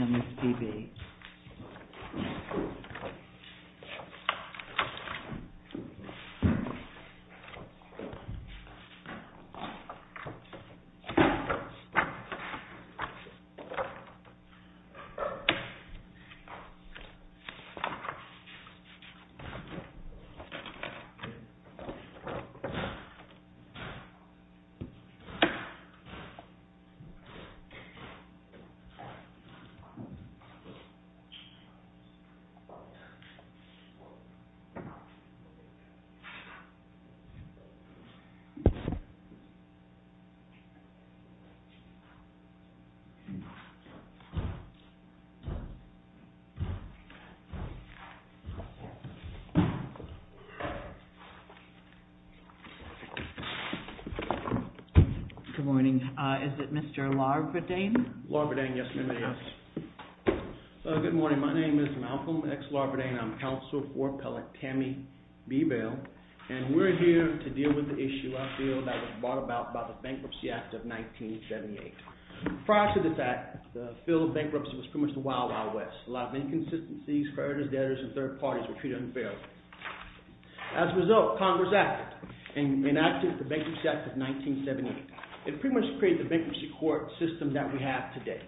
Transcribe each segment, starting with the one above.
MSPB Good morning. Is it Mr. Larverdain? Good morning. My name is Malcolm X. Larverdain. I'm counsel for appellate Tammy B. Bale. And we're here to deal with the issue I feel that was brought about by the Bankruptcy Act of 1978. Prior to this act, the field of bankruptcy was pretty much the wild, wild west. A lot of inconsistencies, creditors, debtors, and third parties were treated unfairly. As a result, Congress acted and enacted the Bankruptcy Act of 1978. It pretty much created the bankruptcy court system that we have today.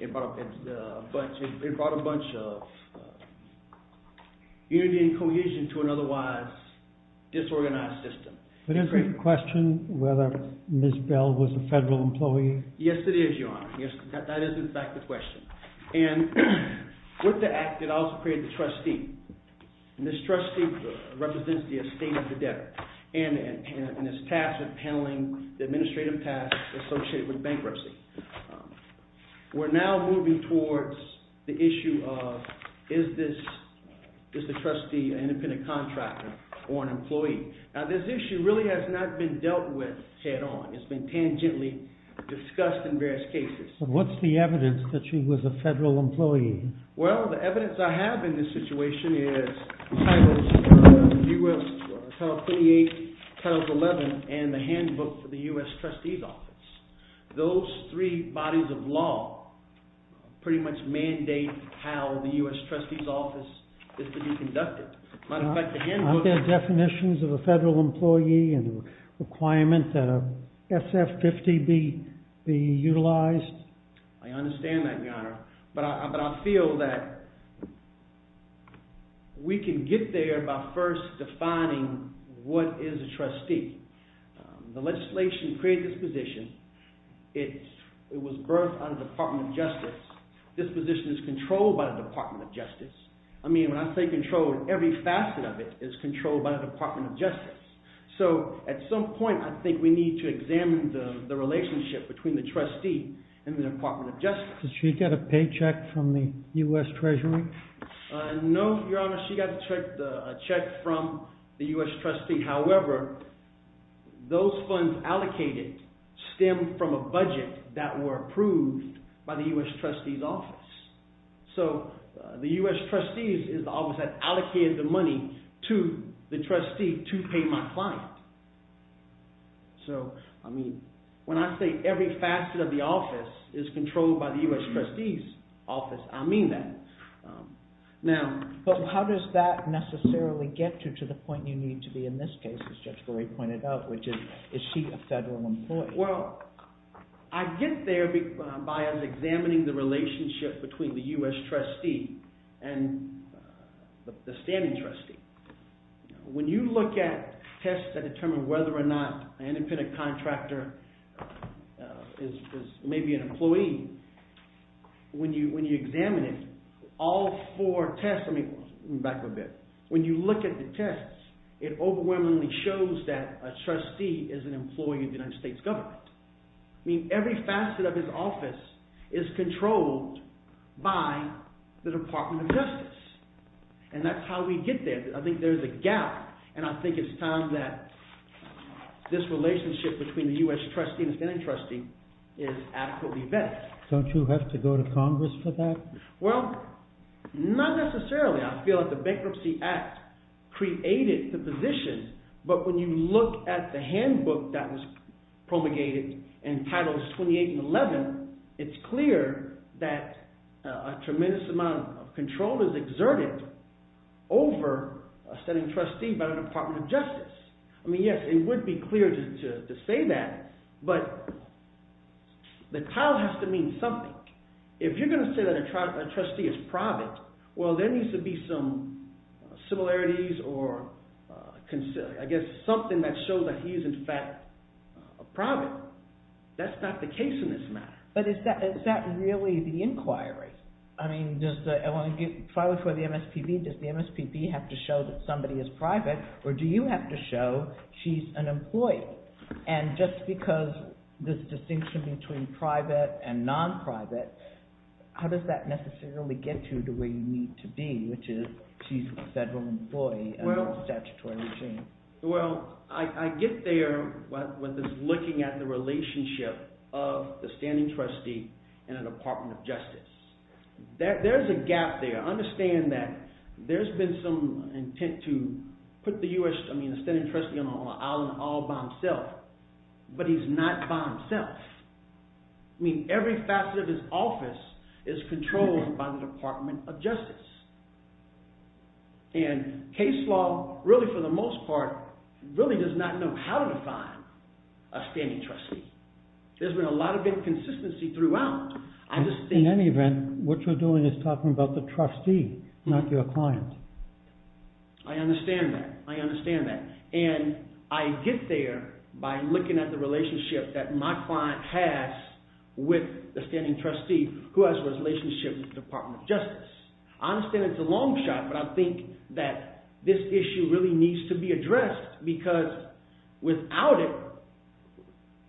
It brought a bunch of unity and cohesion to an otherwise disorganized system. But isn't it a question whether Ms. Bale was a federal employee? Yes, it is, Your Honor. That is, in fact, the question. And with the act, it also created the trustee. And this trustee represents the estate of the debtor and is tasked with paneling the administrative tasks associated with bankruptcy. We're now moving towards the issue of is the trustee an independent contractor or an employee? Now, this issue really has not been dealt with head on. It's been tangentially discussed in various cases. But what's the evidence that she was a federal employee? Well, the evidence I have in this situation is Title 28, Title 11, and the handbook for the U.S. Trustee's Office. Those three bodies of law pretty much mandate how the U.S. Trustee's Office is to be conducted. As a matter of fact, the handbook... Aren't there definitions of a federal employee and a requirement that a SF50 be utilized? I understand that, Your Honor, but I feel that we can get there by first defining what is a trustee. The legislation created this position. It was birthed out of the Department of Justice. This position is controlled by the Department of Justice. I mean, when I say controlled, every facet of it is controlled by the Department of Justice. So, at some point, I think we need to examine the relationship between the trustee and the Department of Justice. Did she get a paycheck from the U.S. Treasury? No, Your Honor. She got a check from the U.S. Trustee. However, those funds allocated stem from a budget that were approved by the U.S. Trustee's Office. So, the U.S. Trustee's Office has allocated the money to the trustee to pay my client. So, I mean, when I say every facet of the office is controlled by the U.S. Trustee's Office, I mean that. Now... But how does that necessarily get you to the point you need to be in this case, as Judge Berre pointed out, which is, is she a federal employee? Well, I get there by examining the relationship between the U.S. Trustee and the standing trustee. When you look at tests that determine whether or not an independent contractor is maybe an employee, when you examine it, all four tests... I mean, every facet of his office is controlled by the Department of Justice, and that's how we get there. I think there's a gap, and I think it's time that this relationship between the U.S. Trustee and the standing trustee is adequately vetted. Don't you have to go to Congress for that? Well, not necessarily. I feel that the Bankruptcy Act created the position, but when you look at the handbook that was promulgated in Titles 28 and 11, it's clear that a tremendous amount of control is exerted over a standing trustee by the Department of Justice. I mean, yes, it would be clear to say that, but the title has to mean something. If you're going to say that a trustee is private, well, there needs to be some similarities or, I guess, something that shows that he is, in fact, a private. That's not the case in this matter. But is that really the inquiry? I mean, does the MSPB have to show that somebody is private, or do you have to show she's an employee? And just because there's distinction between private and non-private, how does that necessarily get you to where you need to be, which is she's a federal employee under the statutory regime? Well, I get there when there's looking at the relationship of the standing trustee and the Department of Justice. There's a gap there. I understand that there's been some intent to put the standing trustee on the island all by himself, but he's not by himself. I mean, every facet of his office is controlled by the Department of Justice. And case law, really, for the most part, really does not know how to define a standing trustee. There's been a lot of inconsistency throughout. In any event, what you're doing is talking about the trustee, not your client. I understand that. I understand that. And I get there by looking at the relationship that my client has with the standing trustee who has a relationship with the Department of Justice. I understand it's a long shot, but I think that this issue really needs to be addressed because without it,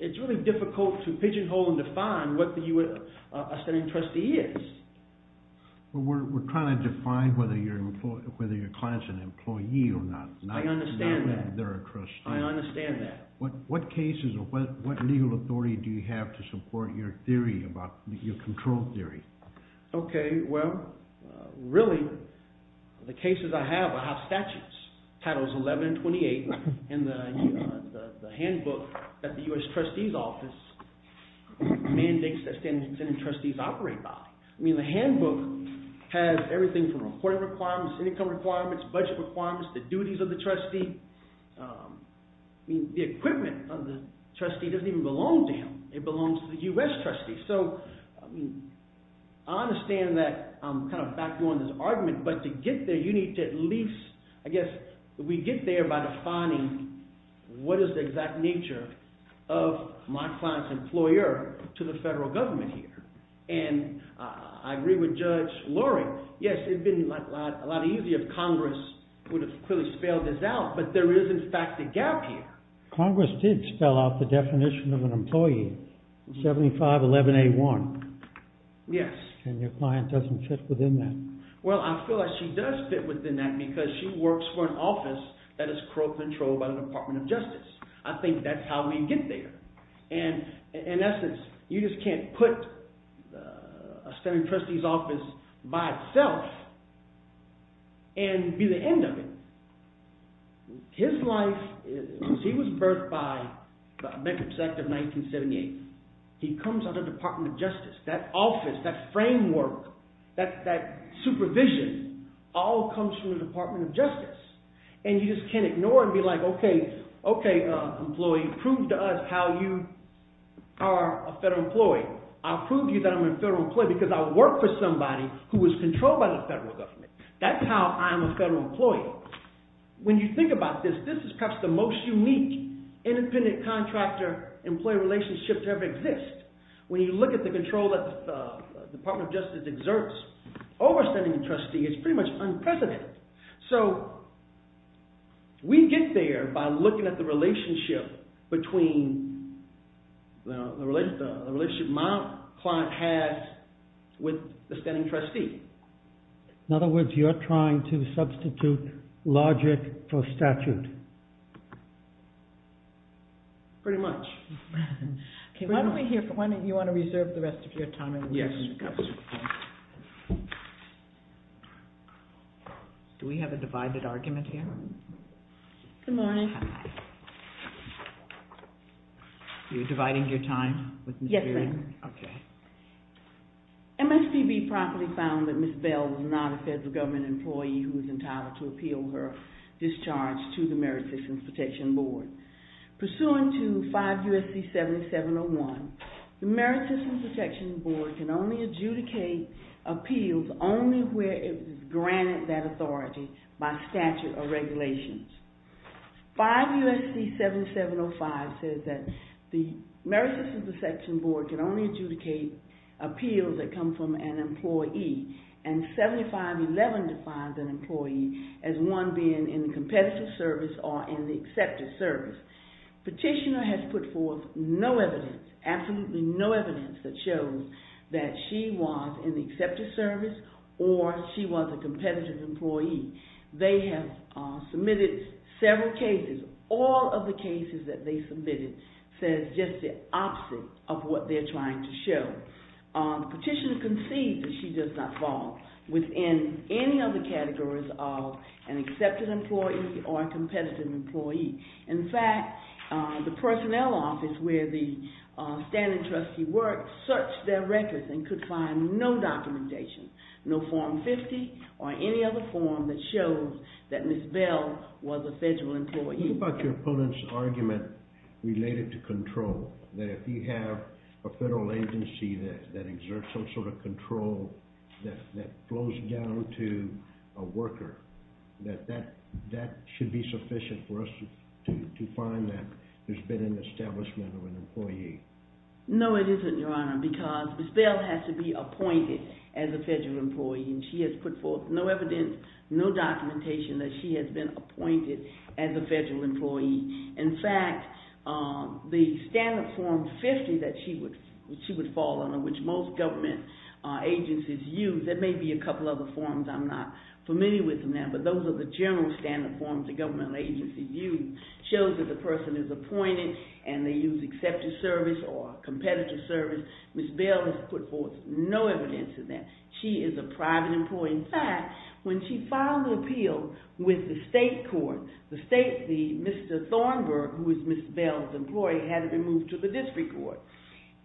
it's really difficult to pigeonhole and define what a standing trustee is. Well, we're trying to define whether your client's an employee or not. I understand that. Not whether they're a trustee. I understand that. What cases or what legal authority do you have to support your theory, your control theory? Okay, well, really, the cases I have, I have statutes, titles 11 and 28 in the handbook that the U.S. trustee's office mandates that standing trustees operate by. I mean, the handbook has everything from reporting requirements, income requirements, budget requirements, the duties of the trustee. I mean, the equipment of the trustee doesn't even belong to him. It belongs to the U.S. trustee. So I understand that I'm kind of back on this argument, but to get there, you need to at least, I guess, we get there by defining what is the exact nature of my client's employer to the federal government here. And I agree with Judge Loring. Yes, it would have been a lot easier if Congress would have clearly spelled this out, but there is, in fact, a gap here. Congress did spell out the definition of an employee, 7511A1. Yes. And your client doesn't fit within that. Well, I feel like she does fit within that because she works for an office that is controlled by the Department of Justice. I think that's how we get there. And in essence, you just can't put a standing trustee's office by itself and be the end of it. His life is – he was birthed by the Bankruptcy Act of 1978. He comes out of the Department of Justice. That office, that framework, that supervision all comes from the Department of Justice. And you just can't ignore it and be like, okay, employee, prove to us how you are a federal employee. I'll prove to you that I'm a federal employee because I work for somebody who is controlled by the federal government. That's how I'm a federal employee. So when you think about this, this is perhaps the most unique independent contractor-employee relationship to ever exist. When you look at the control that the Department of Justice exerts over a standing trustee, it's pretty much unprecedented. So we get there by looking at the relationship between the relationship my client has with the standing trustee. In other words, you're trying to substitute logic for statute. Pretty much. Why don't we hear from – you want to reserve the rest of your time? Yes. Do we have a divided argument here? Good morning. You're dividing your time? Yes, ma'am. Okay. MSPB properly found that Ms. Bell was not a federal government employee who was entitled to appeal her discharge to the Merit Systems Protection Board. Pursuant to 5 U.S.C. 7701, the Merit Systems Protection Board can only adjudicate appeals only where it is granted that authority by statute or regulations. 5 U.S.C. 7705 says that the Merit Systems Protection Board can only adjudicate appeals that come from an employee, and 7511 defines an employee as one being in the competitive service or in the accepted service. Petitioner has put forth no evidence, absolutely no evidence, that shows that she was in the accepted service or she was a competitive employee. They have submitted several cases. All of the cases that they submitted says just the opposite of what they're trying to show. Petitioner concedes that she does not fall within any of the categories of an accepted employee or a competitive employee. In fact, the personnel office where the standing trustee worked searched their records and could find no documentation, no Form 50 or any other form that shows that Ms. Bell was a federal employee. What about your opponent's argument related to control, that if you have a federal agency that exerts some sort of control that flows down to a worker, that that should be sufficient for us to find that there's been an establishment of an employee? No, it isn't, Your Honor, because Ms. Bell has to be appointed as a federal employee, and she has put forth no evidence, no documentation that she has been appointed as a federal employee. In fact, the standard Form 50 that she would fall under, which most government agencies use, there may be a couple other forms I'm not familiar with now, but those are the general standard forms the government agencies use, and it shows that the person is appointed, and they use accepted service or competitive service. Ms. Bell has put forth no evidence of that. She is a private employee. In fact, when she filed the appeal with the state court, Mr. Thornburg, who is Ms. Bell's employee, had it removed to the district court.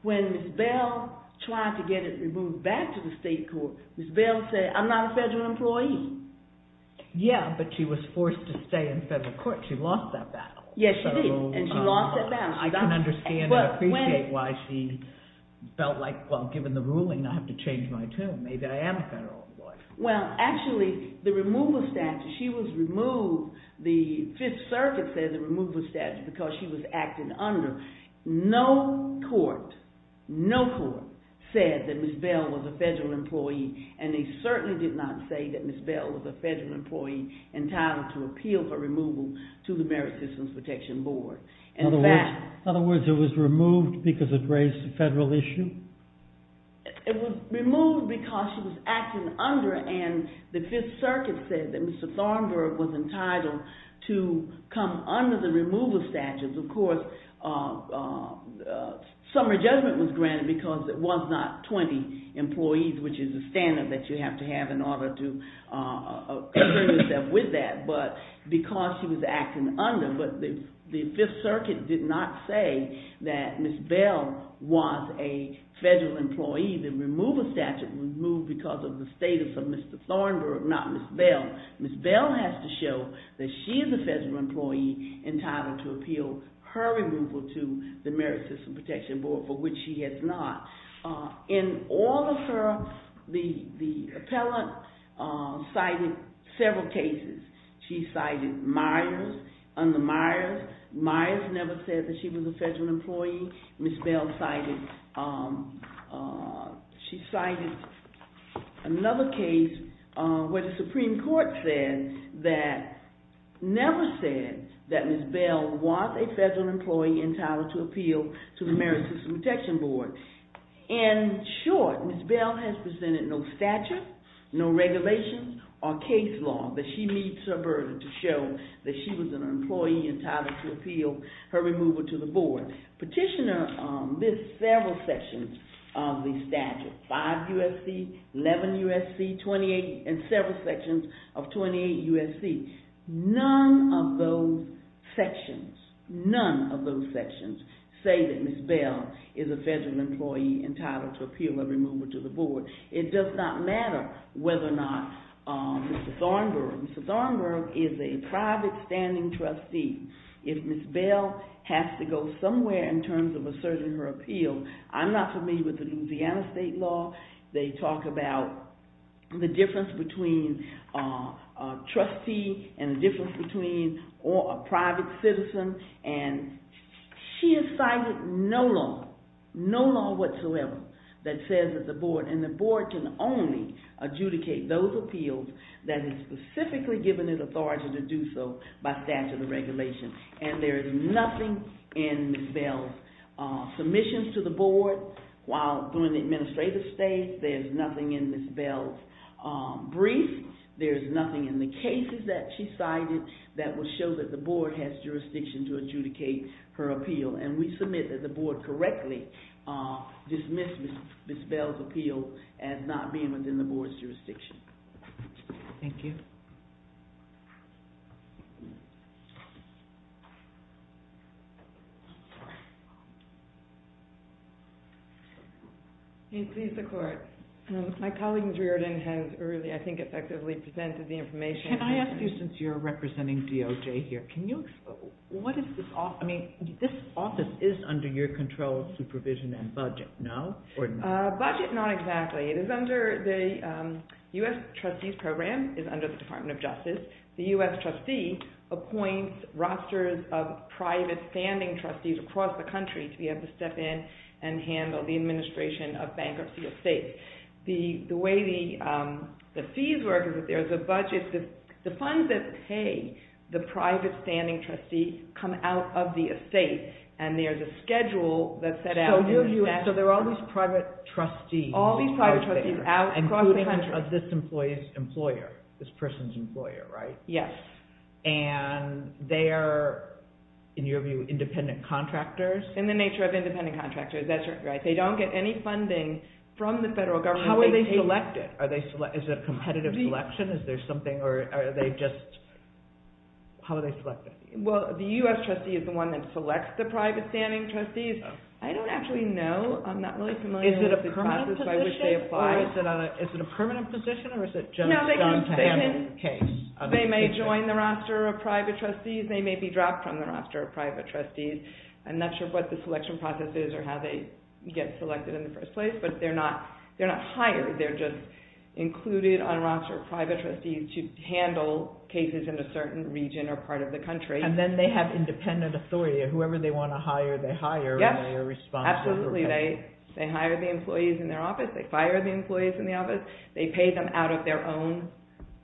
When Ms. Bell tried to get it removed back to the state court, Ms. Bell said, I'm not a federal employee. Yeah, but she was forced to stay in federal court. She lost that battle. Yes, she did, and she lost that battle. I can understand and appreciate why she felt like, well, given the ruling, I have to change my tune. Maybe I am a federal employee. Well, actually, the removal statute, she was removed. The Fifth Circuit said the removal statute because she was acted under. No court said that Ms. Bell was a federal employee, and they certainly did not say that Ms. Bell was a federal employee entitled to appeal for removal to the Merit Systems Protection Board. In other words, it was removed because it raised a federal issue? It was removed because she was acted under, and the Fifth Circuit said that Mr. Thornburg was entitled to come under the removal statute. Of course, summary judgment was granted because it was not 20 employees, which is a standard that you have to have in order to agree with that. But because she was acted under, but the Fifth Circuit did not say that Ms. Bell was a federal employee. The removal statute was removed because of the status of Mr. Thornburg, not Ms. Bell. Ms. Bell has to show that she is a federal employee entitled to appeal her removal to the Merit Systems Protection Board, for which she has not. In all of her, the appellant cited several cases. She cited Myers, under Myers. Myers never said that she was a federal employee. Ms. Bell cited another case where the Supreme Court never said that Ms. Bell was a federal employee entitled to appeal to the Merit Systems Protection Board. In short, Ms. Bell has presented no statute, no regulations, or case law that she meets her burden to show that she was an employee entitled to appeal her removal to the board. Petitioner lists several sections of the statute. 5 U.S.C., 11 U.S.C., 28, and several sections of 28 U.S.C. None of those sections, none of those sections say that Ms. Bell is a federal employee entitled to appeal her removal to the board. It does not matter whether or not Mr. Thornburg, Mr. Thornburg is a private standing trustee. If Ms. Bell has to go somewhere in terms of asserting her appeal, I'm not familiar with the Louisiana state law. They talk about the difference between a trustee and the difference between a private citizen. She has cited no law, no law whatsoever, that says that the board, and the board can only adjudicate those appeals that have specifically given it authority to do so by statute or regulation. And there is nothing in Ms. Bell's submissions to the board. While doing the administrative state, there is nothing in Ms. Bell's brief. There is nothing in the cases that she cited that will show that the board has jurisdiction to adjudicate her appeal. And we submit that the board correctly dismissed Ms. Bell's appeal as not being within the board's jurisdiction. Thank you. Please, the court. My colleague Ms. Reardon has really, I think, effectively presented the information. Can I ask you, since you're representing DOJ here, can you, what is this, I mean, this office is under your control of supervision and budget, no? Budget, not exactly. It is under the U.S. Trustee's Program, is under the Department of Justice. The U.S. Trustee appoints rosters of private standing trustees across the country to be able to step in and handle the administration of bankruptcy estates. The way the fees work is that there's a budget, the funds that pay the private standing trustee come out of the estate, and there's a schedule that's set out in the statute. So there are all these private trustees. All these private trustees out across the country. Including this employee's employer, this person's employer, right? Yes. And they are, in your view, independent contractors? In the nature of independent contractors, that's right. They don't get any funding from the federal government. How are they selected? Is it a competitive selection? Is there something, or are they just, how are they selected? Well, the U.S. Trustee is the one that selects the private standing trustees. I don't actually know. I'm not really familiar with the process by which they apply. Is it a permanent position? Is it a permanent position, or is it just a John-to-him case? They may join the roster of private trustees. They may be dropped from the roster of private trustees. I'm not sure what the selection process is or how they get selected in the first place, but they're not hired. They're just included on a roster of private trustees to handle cases in a certain region or part of the country. And then they have independent authority. Whoever they want to hire, they hire, and they are responsible for paying. Absolutely. They hire the employees in their office. They fire the employees in the office. They pay them out of their own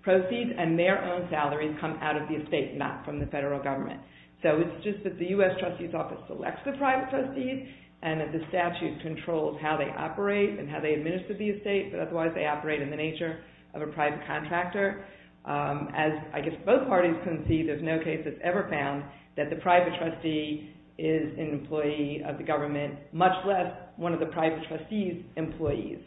proceeds, and their own salaries come out of the estate, not from the federal government. So it's just that the U.S. Trustee's office selects the private trustees, and that the statute controls how they operate and how they administer the estate, but otherwise they operate in the nature of a private contractor. As I guess both parties concede, there's no case that's ever found that the private trustee is an employee of the government, much less one of the private trustee's employees.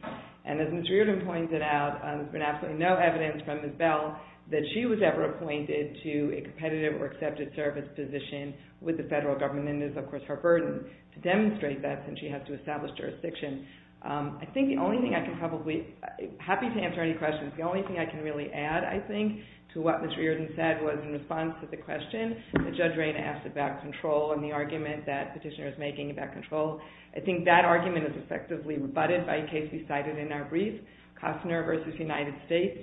And as Ms. Reardon pointed out, there's been absolutely no evidence from Ms. Bell that she was ever appointed to a competitive or accepted service position with the federal government, and it is, of course, her burden to demonstrate that, since she has to establish jurisdiction. I think the only thing I can probably – happy to answer any questions. The only thing I can really add, I think, to what Ms. Reardon said was in response to the question, that Judge Rayna asked about control and the argument that Petitioner is making about control. I think that argument is effectively rebutted by a case we cited in our brief, Costner v. United States,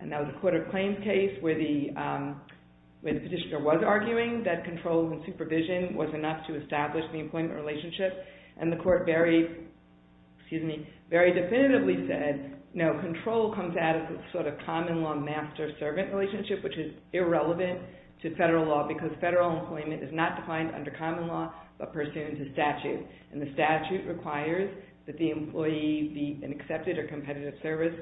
and that was a court of claims case where the Petitioner was arguing that control and supervision was enough to establish the employment relationship, and the court very definitively said, no, control comes out of this sort of common law master-servant relationship, which is irrelevant to federal law, because federal employment is not defined under common law, but pursues a statute, and the statute requires that the employee be an accepted or competitive service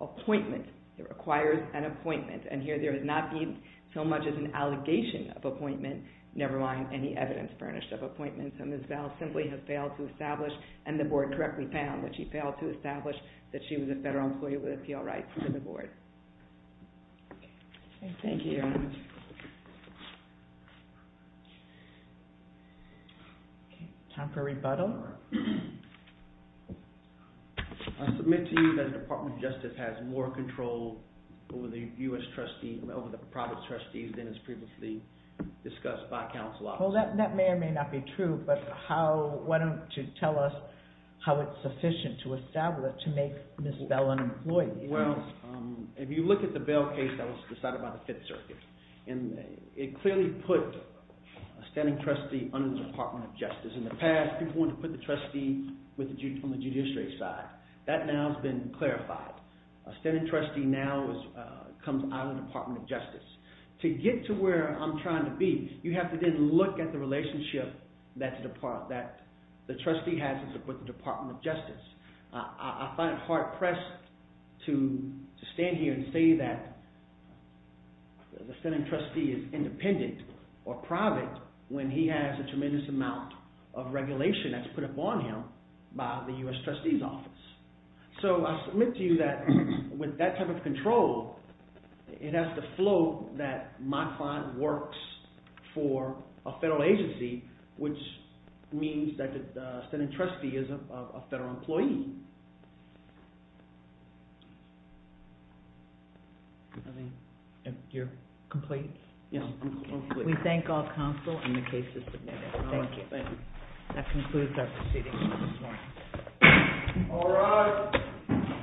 appointment. It requires an appointment, and here there has not been so much as an allegation of appointment, never mind any evidence furnished of appointments, and Ms. Bell simply has failed to establish, and the board correctly found that she failed to establish that she was a federal employee with appeal rights to the board. Thank you very much. Time for a rebuttal. I submit to you that the Department of Justice has more control over the private trustees than is previously discussed by counsel officers. Well, that may or may not be true, but why don't you tell us how it's sufficient to establish to make Ms. Bell an employee? Well, if you look at the Bell case that was decided by the Fifth Circuit, and it clearly put a standing trustee under the Department of Justice. In the past, people wanted to put the trustee on the judiciary side. That now has been clarified. A standing trustee now comes out of the Department of Justice. To get to where I'm trying to be, you have to then look at the relationship that the trustee has with the Department of Justice. I find it hard pressed to stand here and say that the standing trustee is independent or private when he has a tremendous amount of regulation that's put upon him by the U.S. trustee's office. So I submit to you that with that type of control, it has to flow that my client works for a federal agency, which means that the standing trustee is a federal employee. I mean, you're complete? Yeah, I'm complete. We thank all counsel and the case is submitted. Thank you. Thank you. That concludes our proceedings this morning. All rise.